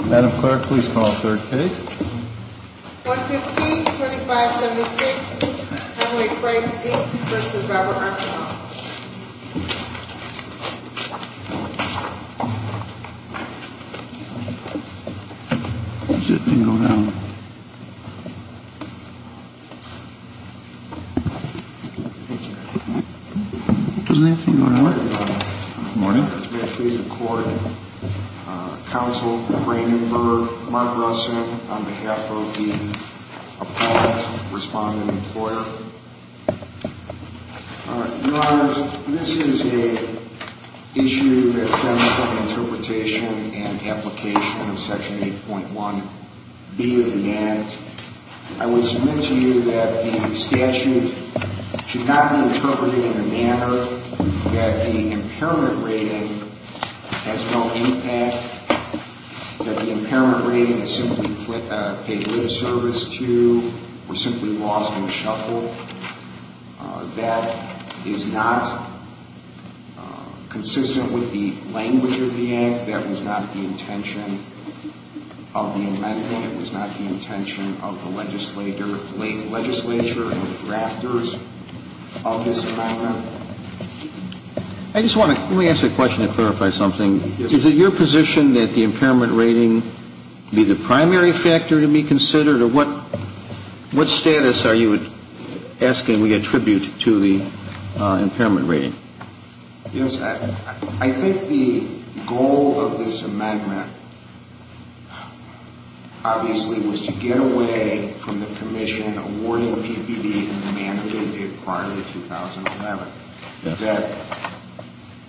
Madam Clerk, please call Third Case. 115-2576, Con-Way Freight, Inc. v. Robert Archibald. Does that thing go down? Doesn't that thing go down? Good morning, Your Honor. Good morning. May I please record Counsel Raymond Berg, Mark Russell, on behalf of the appalled respondent employer. Your Honors, this is an issue that stems from the interpretation and application of Section 8.1B of the Act. I would submit to you that the statute should not be interpreted in a manner that the impairment rating has no impact, that the impairment rating is simply paid lip service to, or simply lost and shuffled. That is not consistent with the language of the Act. That was not the intention of the amendment. That was not the intention of the legislature and the drafters of this amendment. I just want to ask a question to clarify something. Is it your position that the impairment rating be the primary factor to be considered, or what status are you asking we attribute to the impairment rating? Yes, I think the goal of this amendment obviously was to get away from the commission awarding PPD in the manner they did prior to 2011.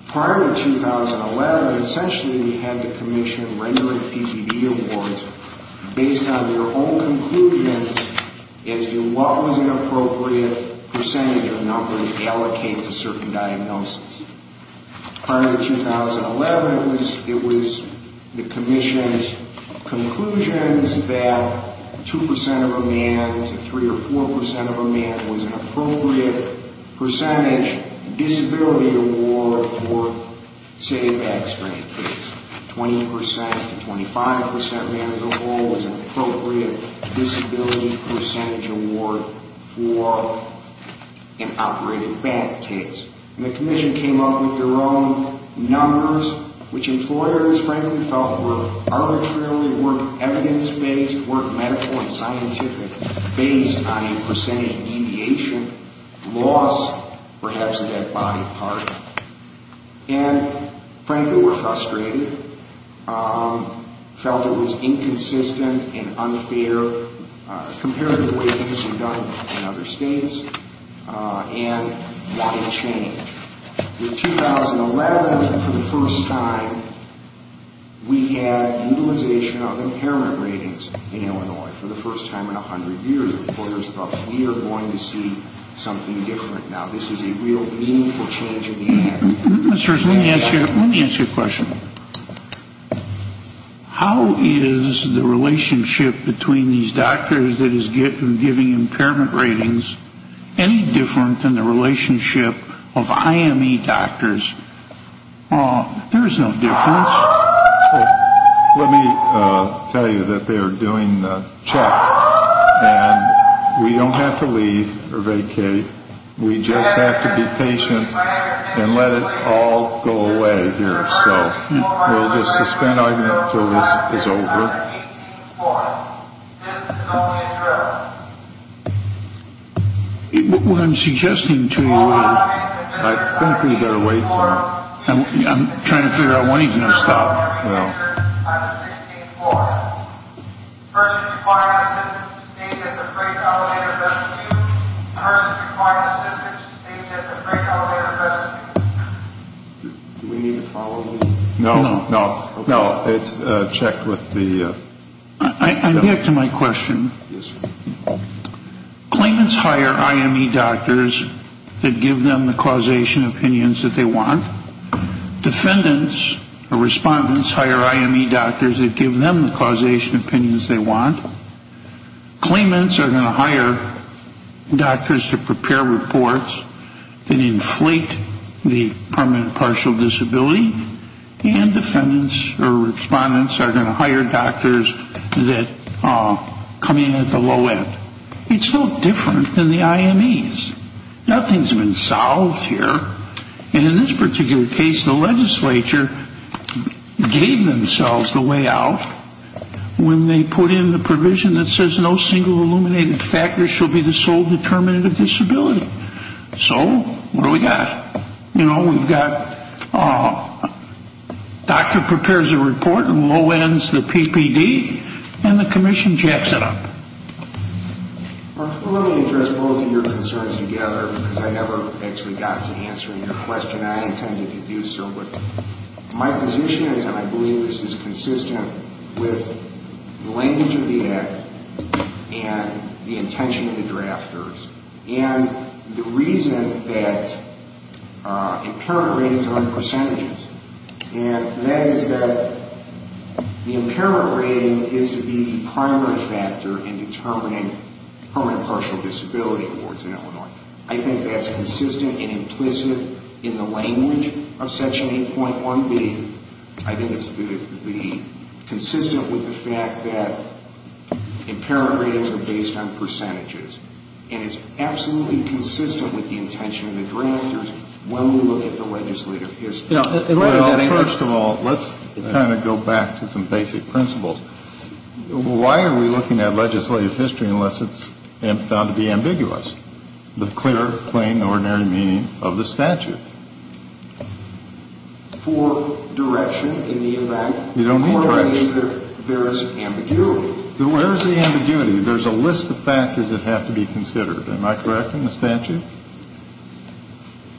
Prior to 2011, essentially we had the commission rendering PPD awards based on their own conclusions as to what was an appropriate percentage or number to allocate to certain diagnoses. Prior to 2011, it was the commission's conclusions that 2 percent of a man to 3 or 4 percent of a man was an appropriate percentage disability award for, say, a back strain case. 20 percent to 25 percent of a man as a whole was an appropriate disability percentage award for an operated back case. The commission came up with their own numbers, which employers frankly felt were arbitrarily work evidence-based, work medical and scientific based on a percentage deviation, loss, perhaps a dead body part. And frankly were frustrated, felt it was inconsistent and unfair compared to the way it used to be done in other states, and wanted change. In 2011, for the first time, we had utilization of impairment ratings in Illinois. For the first time in 100 years, employers thought we are going to see something different. Now this is a real meaningful change in the United States. Let me ask you a question. How is the relationship between these doctors that is giving impairment ratings any different than the relationship of IME doctors? There is no difference. Let me tell you that they are doing the check. And we don't have to leave or vacate. We just have to be patient and let it all go away here. So we'll just suspend argument until this is over. What I'm suggesting to you is... I think we better wait for it. I'm trying to figure out when he's going to stop. Well... Do we need to follow this? No. No. No. It's checked with the... I get to my question. Yes. Claimants hire IME doctors that give them the causation opinions that they want. Defendants or respondents hire IME doctors that give them the causation opinions they want. Claimants are going to hire doctors to prepare reports that inflate the permanent partial disability. And defendants or respondents are going to hire doctors that come in at the low end. It's no different than the IMEs. Nothing has been solved here. And in this particular case, the legislature gave themselves the way out when they put in the provision that says no single illuminated factor shall be the sole determinant of disability. So, what do we got? You know, we've got... Doctor prepares a report and low ends the PPD and the commission jacks it up. Well, let me address both of your concerns together because I never actually got to answering your question. I intended to do so, but my position is, and I believe this is consistent with the language of the Act and the intention of the drafters and the reason that impairment ratings are on percentages. And that is that the impairment rating is to be the primary factor in determining permanent partial disability in Illinois. I think that's consistent and implicit in the language of Section 8.1B. I think it's consistent with the fact that impairment ratings are based on percentages. And it's absolutely consistent with the intention of the drafters when we look at the legislative history. Well, first of all, let's kind of go back to some basic principles. Why are we looking at legislative history unless it's found to be ambiguous with clear, plain, ordinary meaning of the statute? For direction in the event... You don't need direction. There is ambiguity. Where is the ambiguity? There's a list of factors that have to be considered. Am I correct in the statute?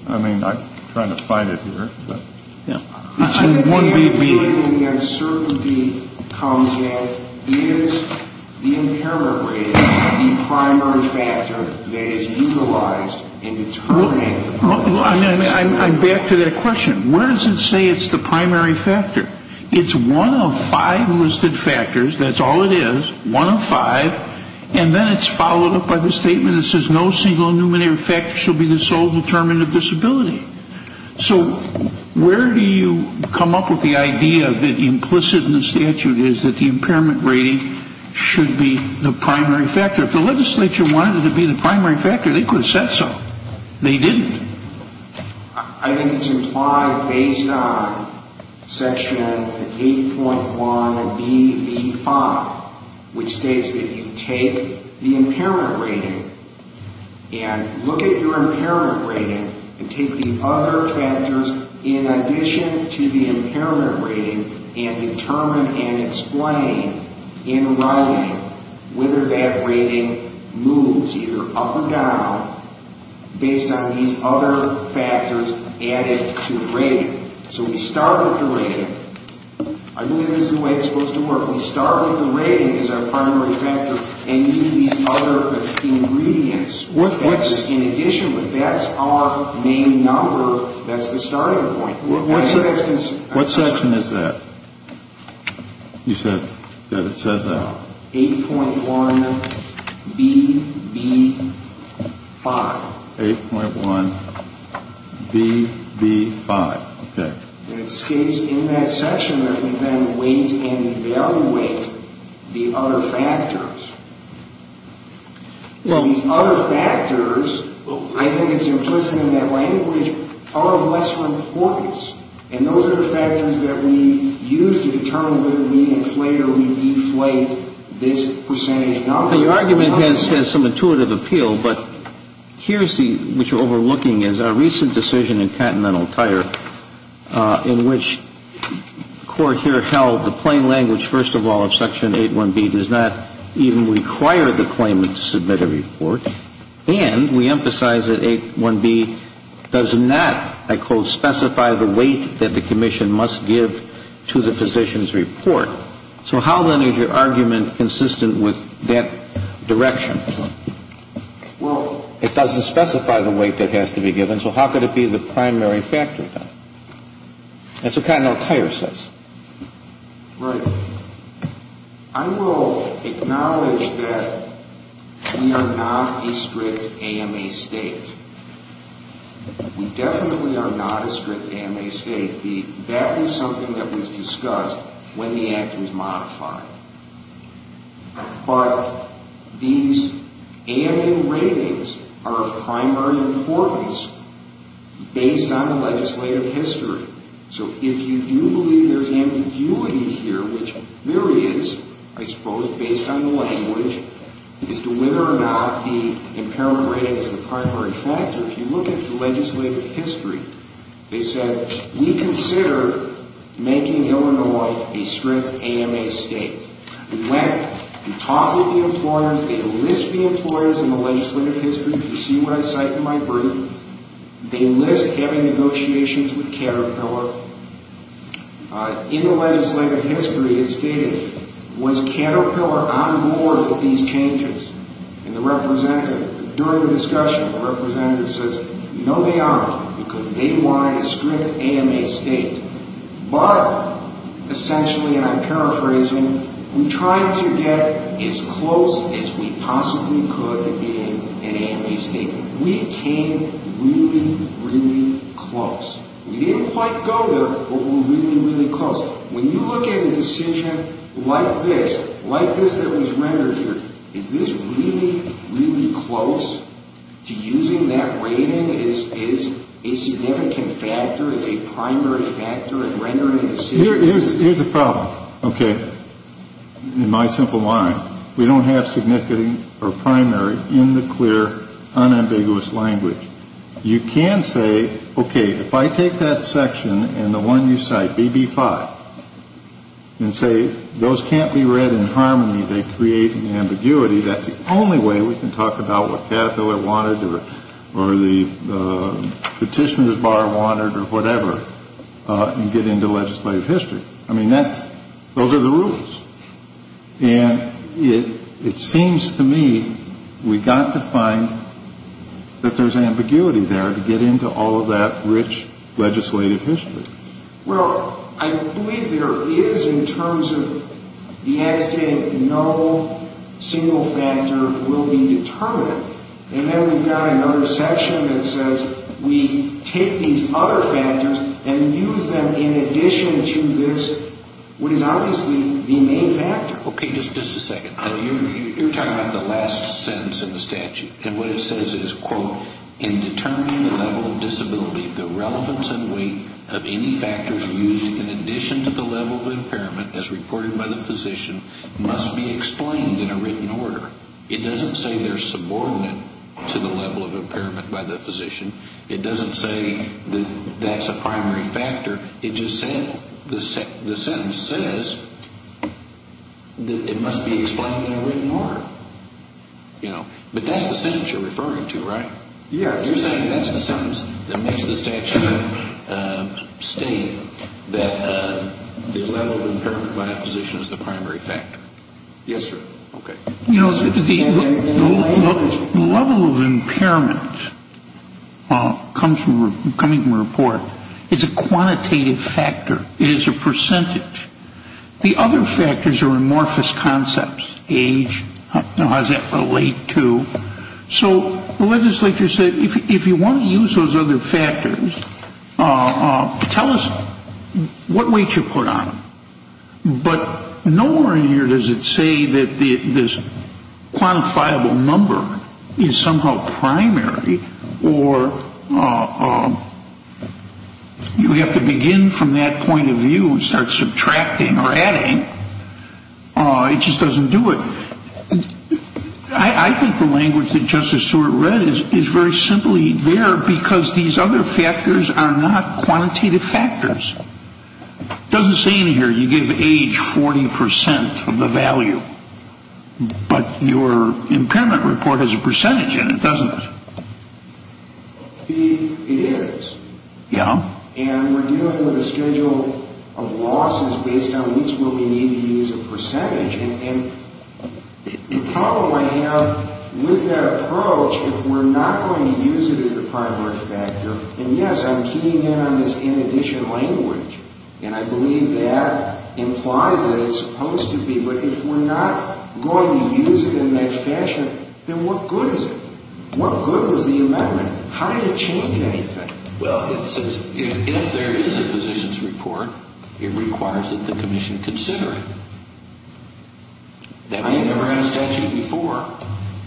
I mean, I'm trying to find it here, but... Yeah. It's in 1BB. I think the ambiguity and the uncertainty comes at, is the impairment rating the primary factor that is utilized in determining... Well, I'm back to that question. Where does it say it's the primary factor? It's one of five listed factors. That's all it is, one of five. And then it's followed up by the statement that says no single numerator factor shall be the sole determinant of disability. So where do you come up with the idea that implicit in the statute is that the impairment rating should be the primary factor? If the legislature wanted it to be the primary factor, they could have said so. They didn't. I think it's implied based on Section 8.1BV5, which states that you take the impairment rating and look at your impairment rating and take the other factors in addition to the impairment rating and determine and explain in writing whether that rating moves either up or down based on these other factors added to the rating. So we start with the rating. I believe this is the way it's supposed to work. We start with the rating as our primary factor and do these other ingredients. In addition, that's our main number. That's the starting point. What section is that? You said that it says that. 8.1BB5. 8.1BB5. Okay. And it states in that section that we then weight and evaluate the other factors. So these other factors, I think it's implicit in that language, are of lesser importance. And those are the factors that we use to determine whether we inflate or we deflate this percentage number. Now, your argument has some intuitive appeal, but here's what you're overlooking is our recent decision in Continental Tire in which court here held the plain language, first of all, of Section 8.1B does not even require the claimant to submit a report. And we emphasize that 8.1B does not, I quote, specify the weight that the commission must give to the physician's report. So how, then, is your argument consistent with that direction? Well, it doesn't specify the weight that has to be given, so how could it be the primary factor, then? That's what Continental Tire says. Right. I will acknowledge that we are not a strict AMA state. We definitely are not a strict AMA state. That is something that was discussed when the Act was modified. But these AMA ratings are of primary importance based on legislative history. So if you do believe there's ambiguity here, which there is, I suppose, based on the language, as to whether or not the impairment rating is the primary factor, if you look at the legislative history, they said, we consider making Illinois a strict AMA state. We went, we talked with the employers, they list the employers in the legislative history, if you see what I cite in my brief, they list having negotiations with Caterpillar. In the legislative history, it stated, was Caterpillar on board with these changes? And the representative, during the discussion, the representative says, no, they aren't, because they wanted a strict AMA state. But, essentially, and I'm paraphrasing, we tried to get as close as we possibly could in being an AMA state. We came really, really close. We didn't quite go there, but we were really, really close. When you look at a decision like this, like this that was rendered here, is this really, really close to using that rating as a significant factor, as a primary factor in rendering a decision? Here's the problem, okay, in my simple mind. We don't have significant or primary in the clear, unambiguous language. You can say, okay, if I take that section and the one you cite, BB5, and say, those can't be read in harmony, they create ambiguity, that's the only way we can talk about what Caterpillar wanted or the petitioner's bar wanted or whatever, and get into legislative history. I mean, that's, those are the rules. And it seems to me we've got to find that there's ambiguity there to get into all of that rich legislative history. Well, I believe there is in terms of the act stating no single factor will be determined. And then we've got another section that says we take these other factors and use them in addition to this, what is obviously the main factor. Okay, just a second. You're talking about the last sentence in the statute, and what it says is, quote, in determining the level of disability, the relevance and weight of any factors used in addition to the level of impairment, as reported by the physician, must be explained in a written order. It doesn't say they're subordinate to the level of impairment by the physician. It doesn't say that that's a primary factor. It just says, the sentence says that it must be explained in a written order, you know. But that's the sentence you're referring to, right? Yeah. You're saying that's the sentence that makes the statute state that the level of impairment by a physician is the primary factor. Yes, sir. Okay. You know, the level of impairment coming from a report is a quantitative factor. It is a percentage. The other factors are amorphous concepts, age, how does that relate to. So the legislature said, if you want to use those other factors, tell us what weight you put on them. But nowhere in here does it say that this quantifiable number is somehow primary or you have to begin from that point of view and start subtracting or adding. It just doesn't do it. I think the language that Justice Stewart read is very simply there because these other factors are not quantitative factors. It doesn't say in here you give age 40% of the value. But your impairment report has a percentage in it, doesn't it? It is. Yeah. And we're dealing with a schedule of losses based on which will we need to use a percentage. And the problem I have with that approach, if we're not going to use it as the primary factor, and, yes, I'm keying in on this in addition language, and I believe that implies that it's supposed to be, but if we're not going to use it in that fashion, then what good is it? What good was the amendment? How did it change anything? Well, it says if there is a physician's report, it requires that the commission consider it. That was never in a statute before.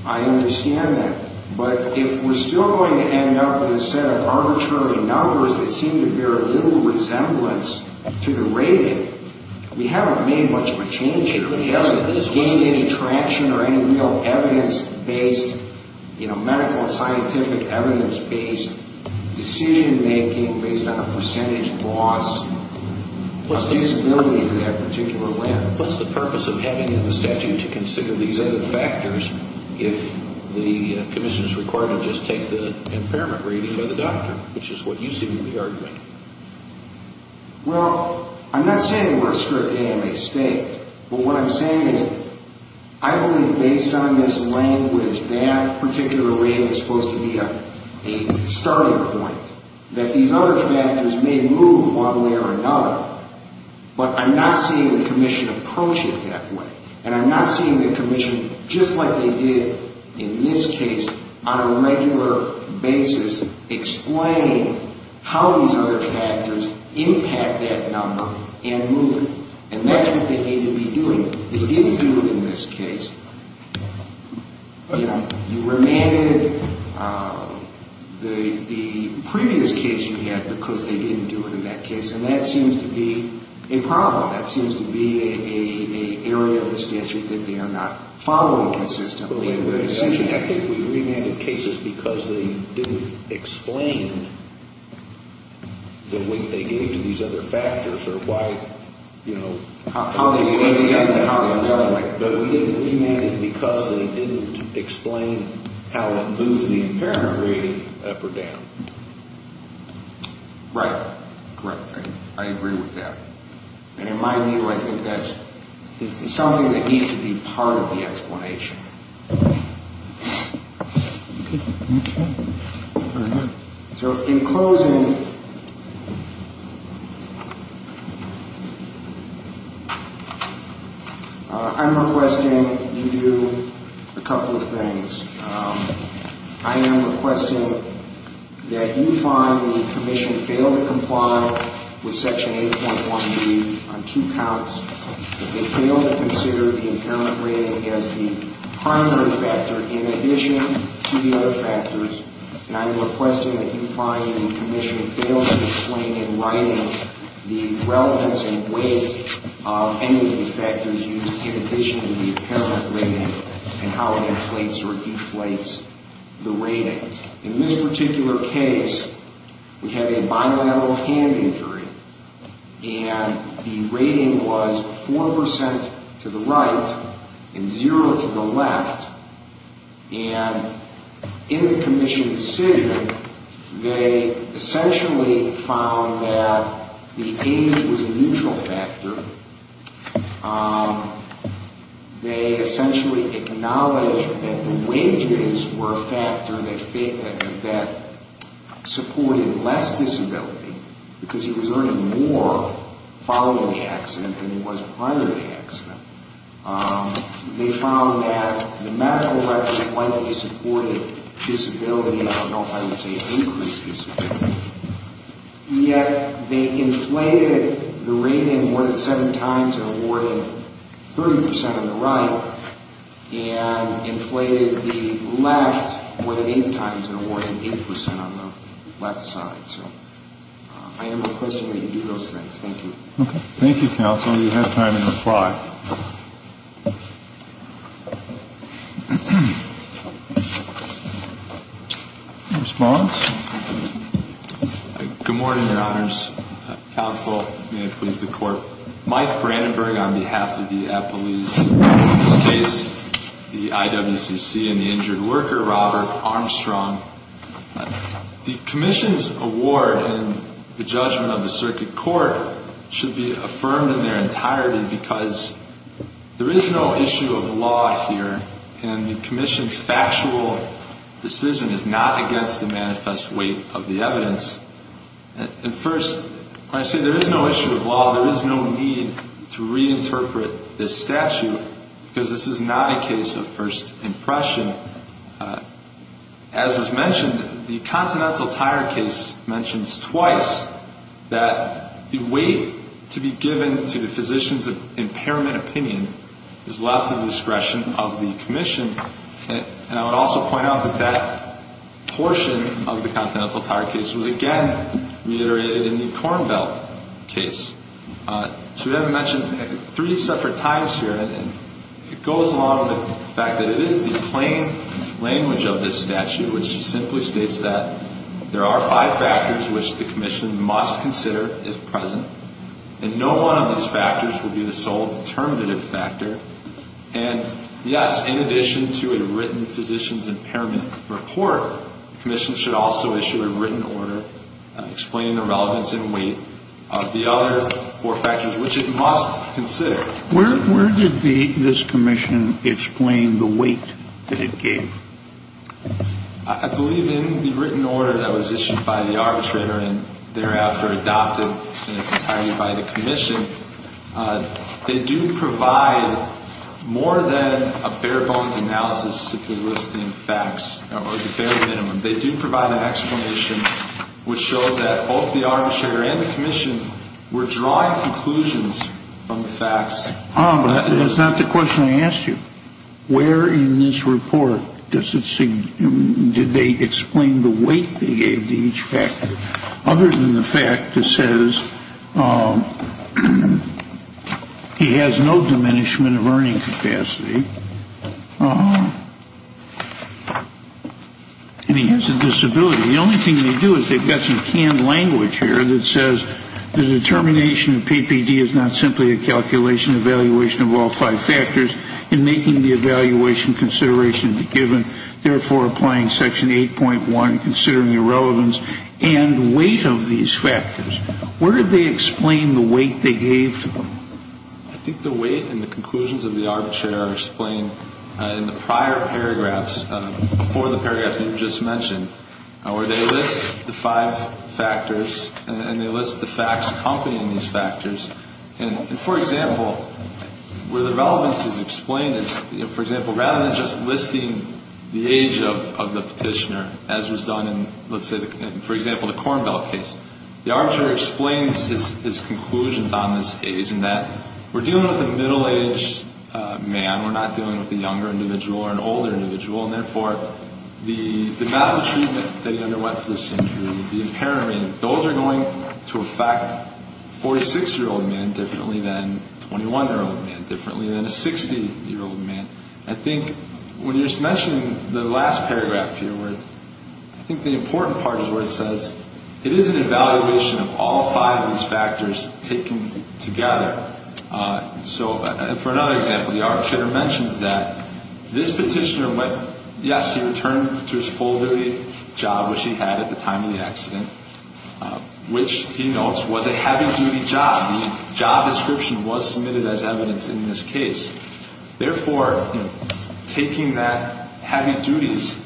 I understand that. But if we're still going to end up with a set of arbitrary numbers that seem to bear little resemblance to the rating, we haven't made much of a change here. We haven't gained any traction or any real evidence-based, you know, medical and scientific evidence-based decision-making based on a percentage loss. What's the purpose of having it in the statute to consider these other factors if the commission is required to just take the impairment rating by the doctor, which is what you see in the argument? Well, I'm not saying we're a strict AMA state, but what I'm saying is I believe based on this language that particular rating is supposed to be a starting point, that these other factors may move one way or another, but I'm not seeing the commission approach it that way, and I'm not seeing the commission, just like they did in this case, on a regular basis explain how these other factors impact that number and move it, and that's what they need to be doing. They didn't do it in this case. You know, you remanded the previous case you had because they didn't do it in that case, and that seems to be a problem. That seems to be an area of the statute that they are not following consistently. I think we remanded cases because they didn't explain the weight they gave to these other factors or why, you know. How they equated them and how they evaluated them. But we didn't remand it because they didn't explain how it moved the impairment rating up or down. Right. Correct. I agree with that. And in my view, I think that's something that needs to be part of the explanation. Okay. So in closing, I'm requesting you do a couple of things. I am requesting that you find when the Commission failed to comply with Section 8.1b on two counts, that they failed to consider the impairment rating as the primary factor in addition to the other factors, and I'm requesting that you find when the Commission failed to explain in writing the relevance and weight of any of the factors used in addition to the impairment rating and how it inflates or deflates the rating. In this particular case, we have a bilateral hand injury, and the rating was 4% to the right and 0% to the left. And in the Commission's decision, they essentially found that the age was a neutral factor. They essentially acknowledged that the wages were a factor that supported less disability because he was earning more following the accident than he was prior to the accident. They found that the medical records likely supported disability. I don't know if I would say increased disability. Yet they inflated the rating more than seven times and awarded 30% on the right and inflated the left more than eight times and awarded 8% on the left side. So I am requesting that you do those things. Thank you. Okay. Thank you, counsel. You have time to reply. Response? Good morning, Your Honors. Counsel, may it please the Court. Mike Brandenburg on behalf of the Appellee's case, the IWCC, and the injured worker, Robert Armstrong. The Commission's award and the judgment of the circuit court should be affirmed in their entirety because there is no issue of law here, and the Commission's factual decision is not against the manifest weight of the evidence. And first, when I say there is no issue of law, there is no need to reinterpret this statute because this is not a case of first impression. As was mentioned, the Continental Tire case mentions twice that the weight to be given to the physician's impairment opinion is left at the discretion of the Commission. And I would also point out that that portion of the Continental Tire case was, again, reiterated in the Cornbell case. So we have mentioned three separate times here, and it goes along with the fact that it is the plain language of this statute, which simply states that there are five factors which the Commission must consider as present, and no one of these factors will be the sole determinative factor. And, yes, in addition to a written physician's impairment report, the Commission should also issue a written order explaining the relevance and weight of the other four factors, which it must consider. Where did this Commission explain the weight that it gave? I believe in the written order that was issued by the arbitrator and thereafter adopted in its entirety by the Commission, they do provide more than a bare-bones analysis simply listing facts, or the bare minimum. They do provide an explanation which shows that both the arbitrator and the Commission were drawing conclusions from the facts. But that's not the question I asked you. Where in this report did they explain the weight they gave to each factor? Other than the fact that says he has no diminishment of earning capacity, and he has a disability, the only thing they do is they've got some canned language here that says the determination of PPD is not simply a calculation, evaluation of all five factors, and making the evaluation consideration the given, therefore applying Section 8.1, considering the relevance and weight of these factors. Where did they explain the weight they gave to them? I think the weight and the conclusions of the arbitrator are explained in the prior paragraphs, before the paragraph you just mentioned, where they list the five factors and they list the facts accompanying these factors. And, for example, where the relevance is explained is, for example, rather than just listing the age of the petitioner, as was done in, let's say, for example, the Cornbell case, the arbitrator explains his conclusions on this age, and that we're dealing with a middle-aged man, we're not dealing with a younger individual or an older individual, and therefore the amount of treatment that he underwent for this injury, the impairment, those are going to affect a 46-year-old man differently than a 21-year-old man, differently than a 60-year-old man. I think when you just mentioned the last paragraph here where it's, I think the important part is where it says it is an evaluation of all five of these factors taken together. So, for another example, the arbitrator mentions that this petitioner went, yes, he returned to his full-duty job, which he had at the time of the accident, which he notes was a heavy-duty job. The job description was submitted as evidence in this case. Therefore, taking that heavy duties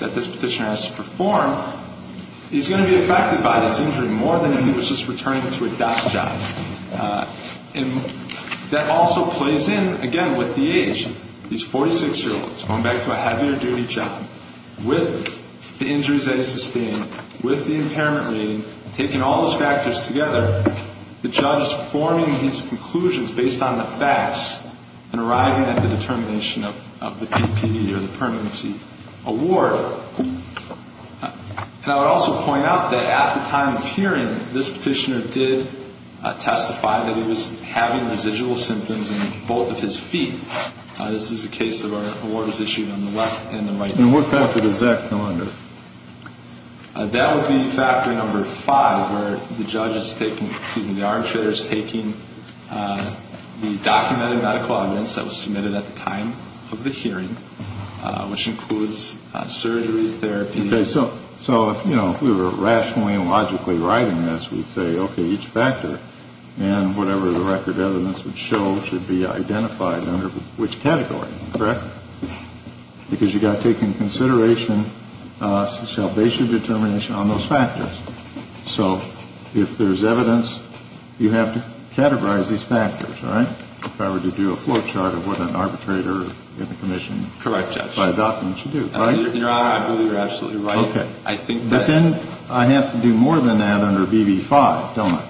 that this petitioner has to perform, he's going to be affected by this injury more than if he was just returning to a desk job. And that also plays in, again, with the age. These 46-year-olds going back to a heavier-duty job, with the injuries that he sustained, with the impairment rating, taking all those factors together, the judge is forming his conclusions based on the facts and arriving at the determination of the PPE or the permanency award. And I would also point out that at the time of hearing, this petitioner did testify that he was having residual symptoms in both of his feet. This is a case that was issued on the left and the right. And what factor does that fall under? That would be factor number five, where the judge is taking, excuse me, the arbitrator is taking the documented medical evidence that was submitted at the time of the hearing, which includes surgery, therapy. Okay. So, you know, if we were rationally and logically writing this, we'd say, okay, each factor, and whatever the record evidence would show should be identified under which category, correct? Because you've got to take into consideration, shall base your determination on those factors. So if there's evidence, you have to categorize these factors, right? If I were to do a flow chart of what an arbitrator in the commission, if I adopt them, should do, right? Your Honor, I believe you're absolutely right. Okay. But then I have to do more than that under BB5, don't I?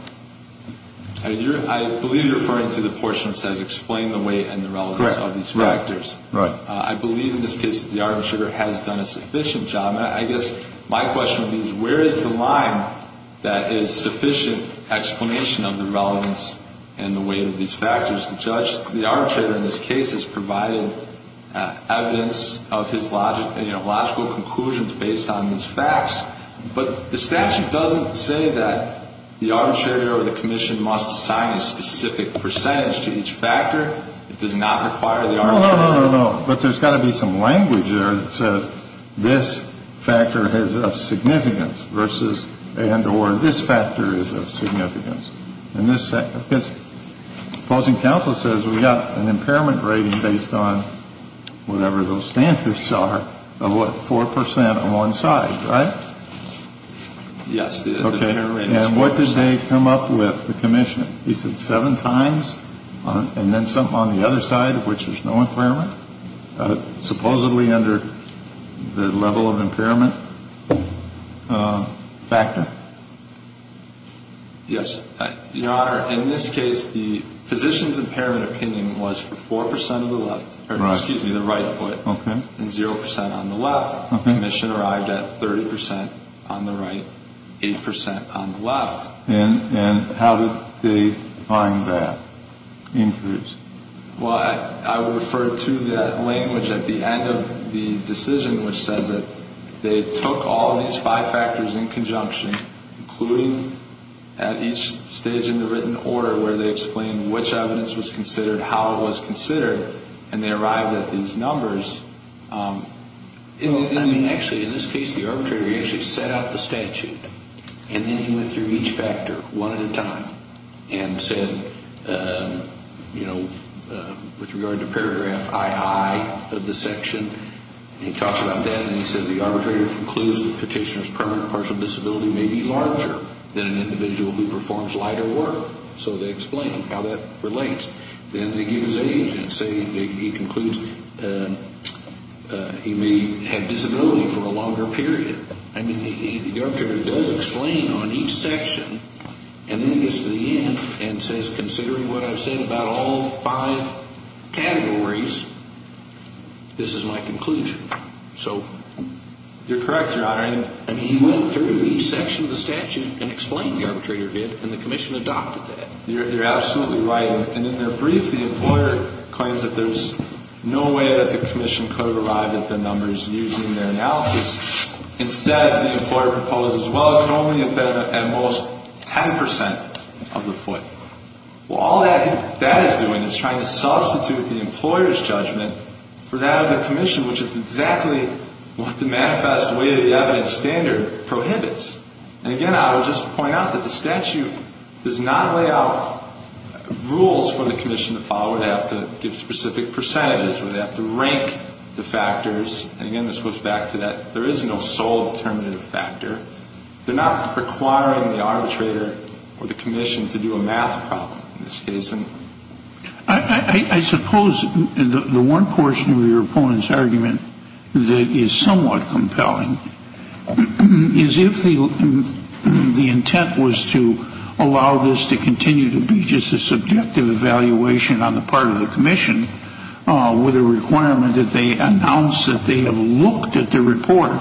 I believe you're referring to the portion that says explain the weight and the relevance of these factors. Correct. Right. I believe in this case that the arbitrator has done a sufficient job. And I guess my question would be, where is the line that is sufficient explanation of the relevance and the weight of these factors? The judge, the arbitrator in this case has provided evidence of his logical conclusions based on these facts. But the statute doesn't say that the arbitrator or the commission must assign a specific percentage to each factor. It does not require the arbitrator. No, no, no, no. But there's got to be some language there that says this factor is of significance versus and or this factor is of significance. Because the opposing counsel says we've got an impairment rating based on whatever those standards are of what, 4% on one side, right? Yes. And what did they come up with, the commission? He said seven times. And then some on the other side of which there's no impairment. Supposedly under the level of impairment factor. Yes. Your Honor, in this case, the physician's impairment opinion was for 4% of the left. Excuse me, the right foot. Okay. And 0% on the left. Okay. Commission arrived at 30% on the right, 8% on the left. And how did they find that increase? Well, I would refer to that language at the end of the decision, which says that they took all these five factors in conjunction, including at each stage in the written order where they explained which evidence was considered, how it was considered, and they arrived at these numbers. I mean, actually, in this case, the arbitrator actually set out the statute, and then he went through each factor one at a time and said, you know, with regard to paragraph II of the section, he talks about that, and he says the arbitrator concludes that the petitioner's permanent partial disability may be larger than an individual who performs lighter work. So they explain how that relates. Then they give his age and say he concludes he may have disability for a longer period. I mean, the arbitrator does explain on each section and then gets to the end and says, considering what I've said about all five categories, this is my conclusion. So you're correct, Your Honor. I mean, he went through each section of the statute and explained what the arbitrator did, and the commission adopted that. You're absolutely right. And in their brief, the employer claims that there's no way that the commission could have arrived at the numbers using their analysis. Instead, the employer proposes, well, it could only have been at most 10 percent of the foot. Well, all that is doing is trying to substitute the employer's judgment for that of the commission, which is exactly what the manifest way of the evidence standard prohibits. And again, I would just point out that the statute does not lay out rules for the commission to follow. They have to give specific percentages or they have to rank the factors. And again, this goes back to that there is no sole determinative factor. They're not requiring the arbitrator or the commission to do a math problem in this case. I suppose the one portion of your opponent's argument that is somewhat compelling is if the intent was to allow this to continue to be just a subjective evaluation on the part of the commission with a requirement that they announce that they have looked at the report,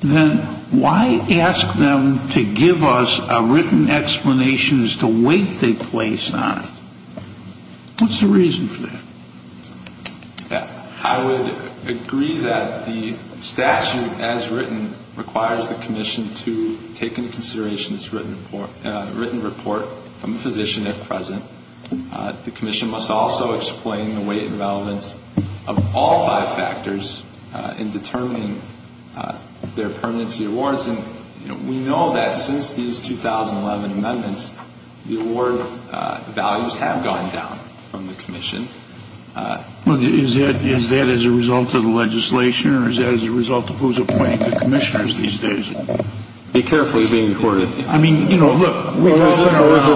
then why ask them to give us a written explanation as to weight they place on it? What's the reason for that? I would agree that the statute as written requires the commission to take into consideration this written report from the physician at present. The commission must also explain the weight and relevance of all five factors in determining their permanency awards. And we know that since these 2011 amendments, the award values have gone down from the commission. Is that as a result of the legislation or is that as a result of who's appointing the commissioners these days? Be careful of being recorded. Well, is it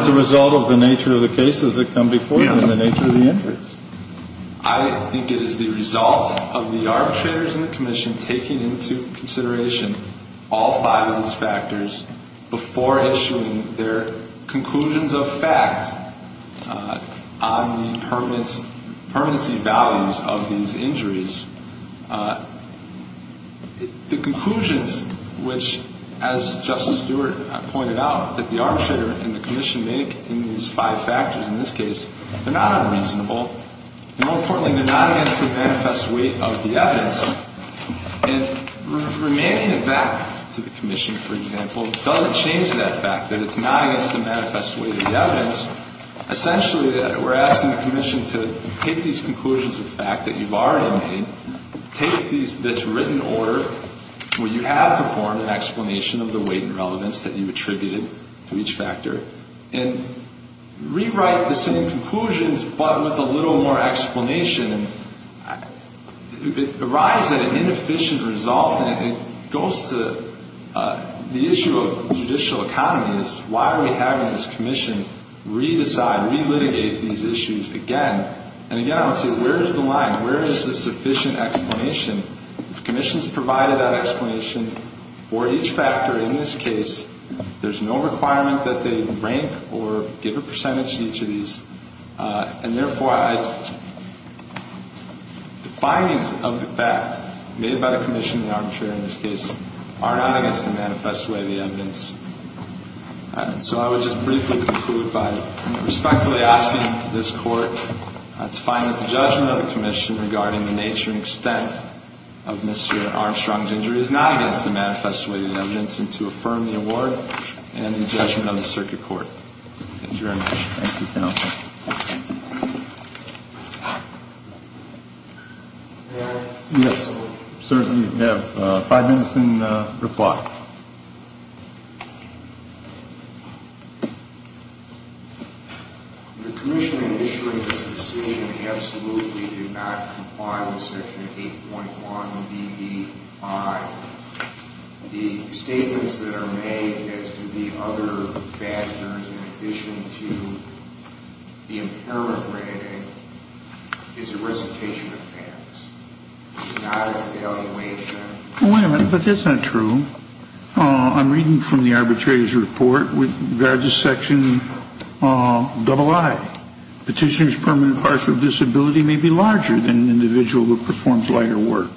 the result of the nature of the cases that come before them and the nature of the injuries? I think it is the result of the arbitrators and the commission taking into consideration all five of these factors before issuing their conclusions of fact on the permanency values of these injuries. The conclusions which, as Justice Stewart pointed out, that the arbitrator and the commission make in these five factors in this case, they're not unreasonable, and more importantly, they're not against the manifest weight of the evidence. And remaining it back to the commission, for example, doesn't change that fact that it's not against the manifest weight of the evidence. Essentially, we're asking the commission to take these conclusions of fact that you've already made and take this written order where you have performed an explanation of the weight and relevance that you attributed to each factor and rewrite the same conclusions but with a little more explanation. It arrives at an inefficient result, and it goes to the issue of judicial economies. Why are we having this commission re-decide, re-litigate these issues again? And again, I would say, where is the line? Where is the sufficient explanation? If the commission's provided that explanation for each factor in this case, there's no requirement that they rank or give a percentage to each of these. And therefore, the findings of the fact made by the commission and the arbitrator in this case are not against the manifest weight of the evidence. So I would just briefly conclude by respectfully asking this Court to find that the judgment of the commission regarding the nature and extent of Mr. Armstrong's injury is not against the manifest weight of the evidence and to affirm the award and the judgment of the circuit court. Thank you very much. Thank you, counsel. Yes, sir. You have five minutes in reply. The commission in issuing this decision absolutely did not comply with Section 8.1 BB5. The statements that are made as to the other factors in addition to the impairment rating is a recitation advance. It's not an evaluation. Well, wait a minute. But that's not true. I'm reading from the arbitrator's report with regard to Section III. Petitioner's permanent partial disability may be larger than an individual who performs lighter work.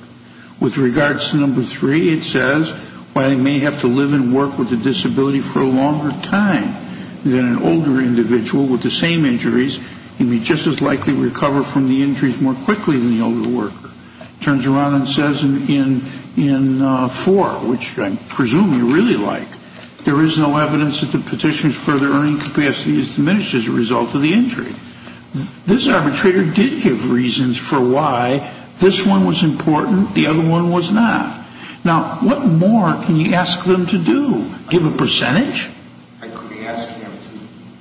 With regards to No. 3, it says while he may have to live and work with a disability for a longer time than an older individual with the same injuries, he may just as likely recover from the injuries more quickly than the older worker. It turns around and says in 4, which I presume you really like, there is no evidence that the petitioner's further earning capacity is diminished as a result of the injury. This arbitrator did give reasons for why this one was important, the other one was not. Now, what more can you ask them to do? Give a percentage? I could ask them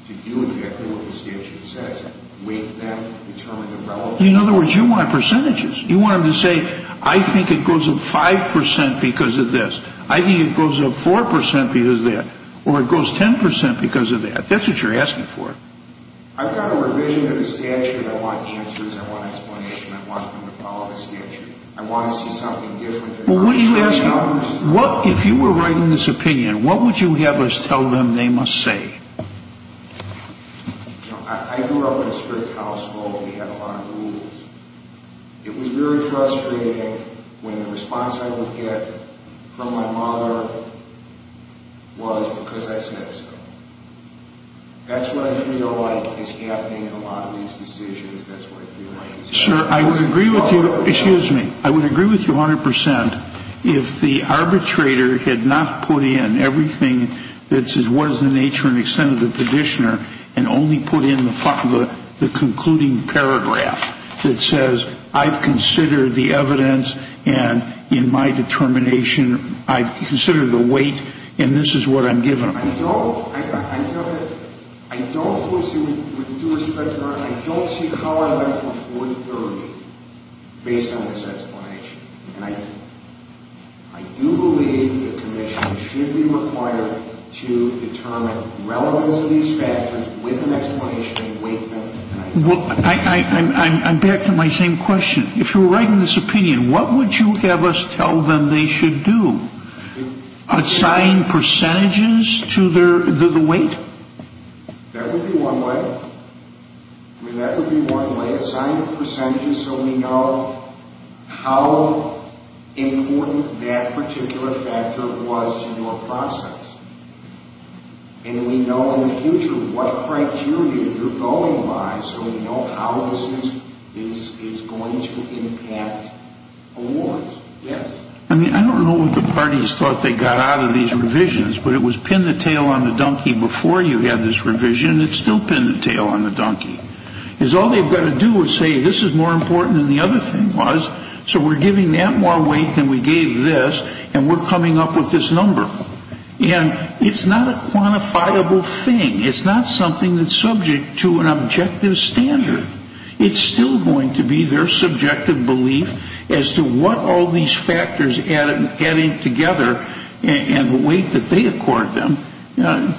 to do exactly what the statute says, weight them, determine the relevance. In other words, you want percentages. You want them to say, I think it goes up 5 percent because of this. I think it goes up 4 percent because of that. Or it goes 10 percent because of that. That's what you're asking for. I've got a revision of the statute. I want answers. I want explanation. I want them to follow the statute. I want to see something different. Well, what are you asking? If you were writing this opinion, what would you have us tell them they must say? I grew up in a strict household. We had a lot of rules. It was very frustrating when the response I would get from my mother was because I said so. That's what I feel like is happening in a lot of these decisions. That's what I feel like is happening. Sir, I would agree with you. Excuse me. I would agree with you 100 percent. If the arbitrator had not put in everything that says what is the nature and extent of the petitioner and only put in the concluding paragraph that says I've considered the evidence and in my determination I've considered the weight and this is what I'm given. I don't see how I went from 4 to 30 based on this explanation. And I do believe the commission should be required to determine the relevance of these factors with an explanation and weight them. I'm back to my same question. If you were writing this opinion, what would you have us tell them they should do? Assign percentages to the weight? That would be one way. That would be one way. Assign percentages so we know how important that particular factor was to your process. And we know in the future what criteria you're going by so we know how this is going to impact awards. I mean, I don't know what the parties thought they got out of these revisions, but it was pin the tail on the donkey before you had this revision. It's still pin the tail on the donkey. Because all they've got to do is say this is more important than the other thing was, so we're giving that more weight than we gave this, and we're coming up with this number. And it's not a quantifiable thing. It's not something that's subject to an objective standard. It's still going to be their subjective belief as to what all these factors added together and the weight that they accord them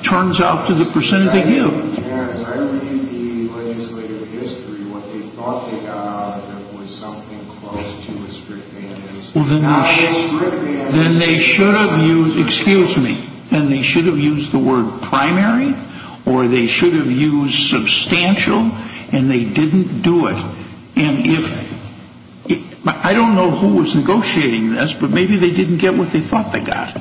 turns out to the percentage they give. I read the legislative history. What they thought they got out of it was something close to a strict mandate. Well, then they should have used, excuse me, then they should have used the word primary or they should have used substantial, and they didn't do it. And I don't know who was negotiating this, but maybe they didn't get what they thought they got.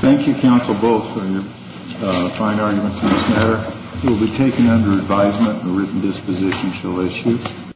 Thank you, counsel, both, for your fine arguments on this matter. It will be taken under advisement and a written disposition shall issue.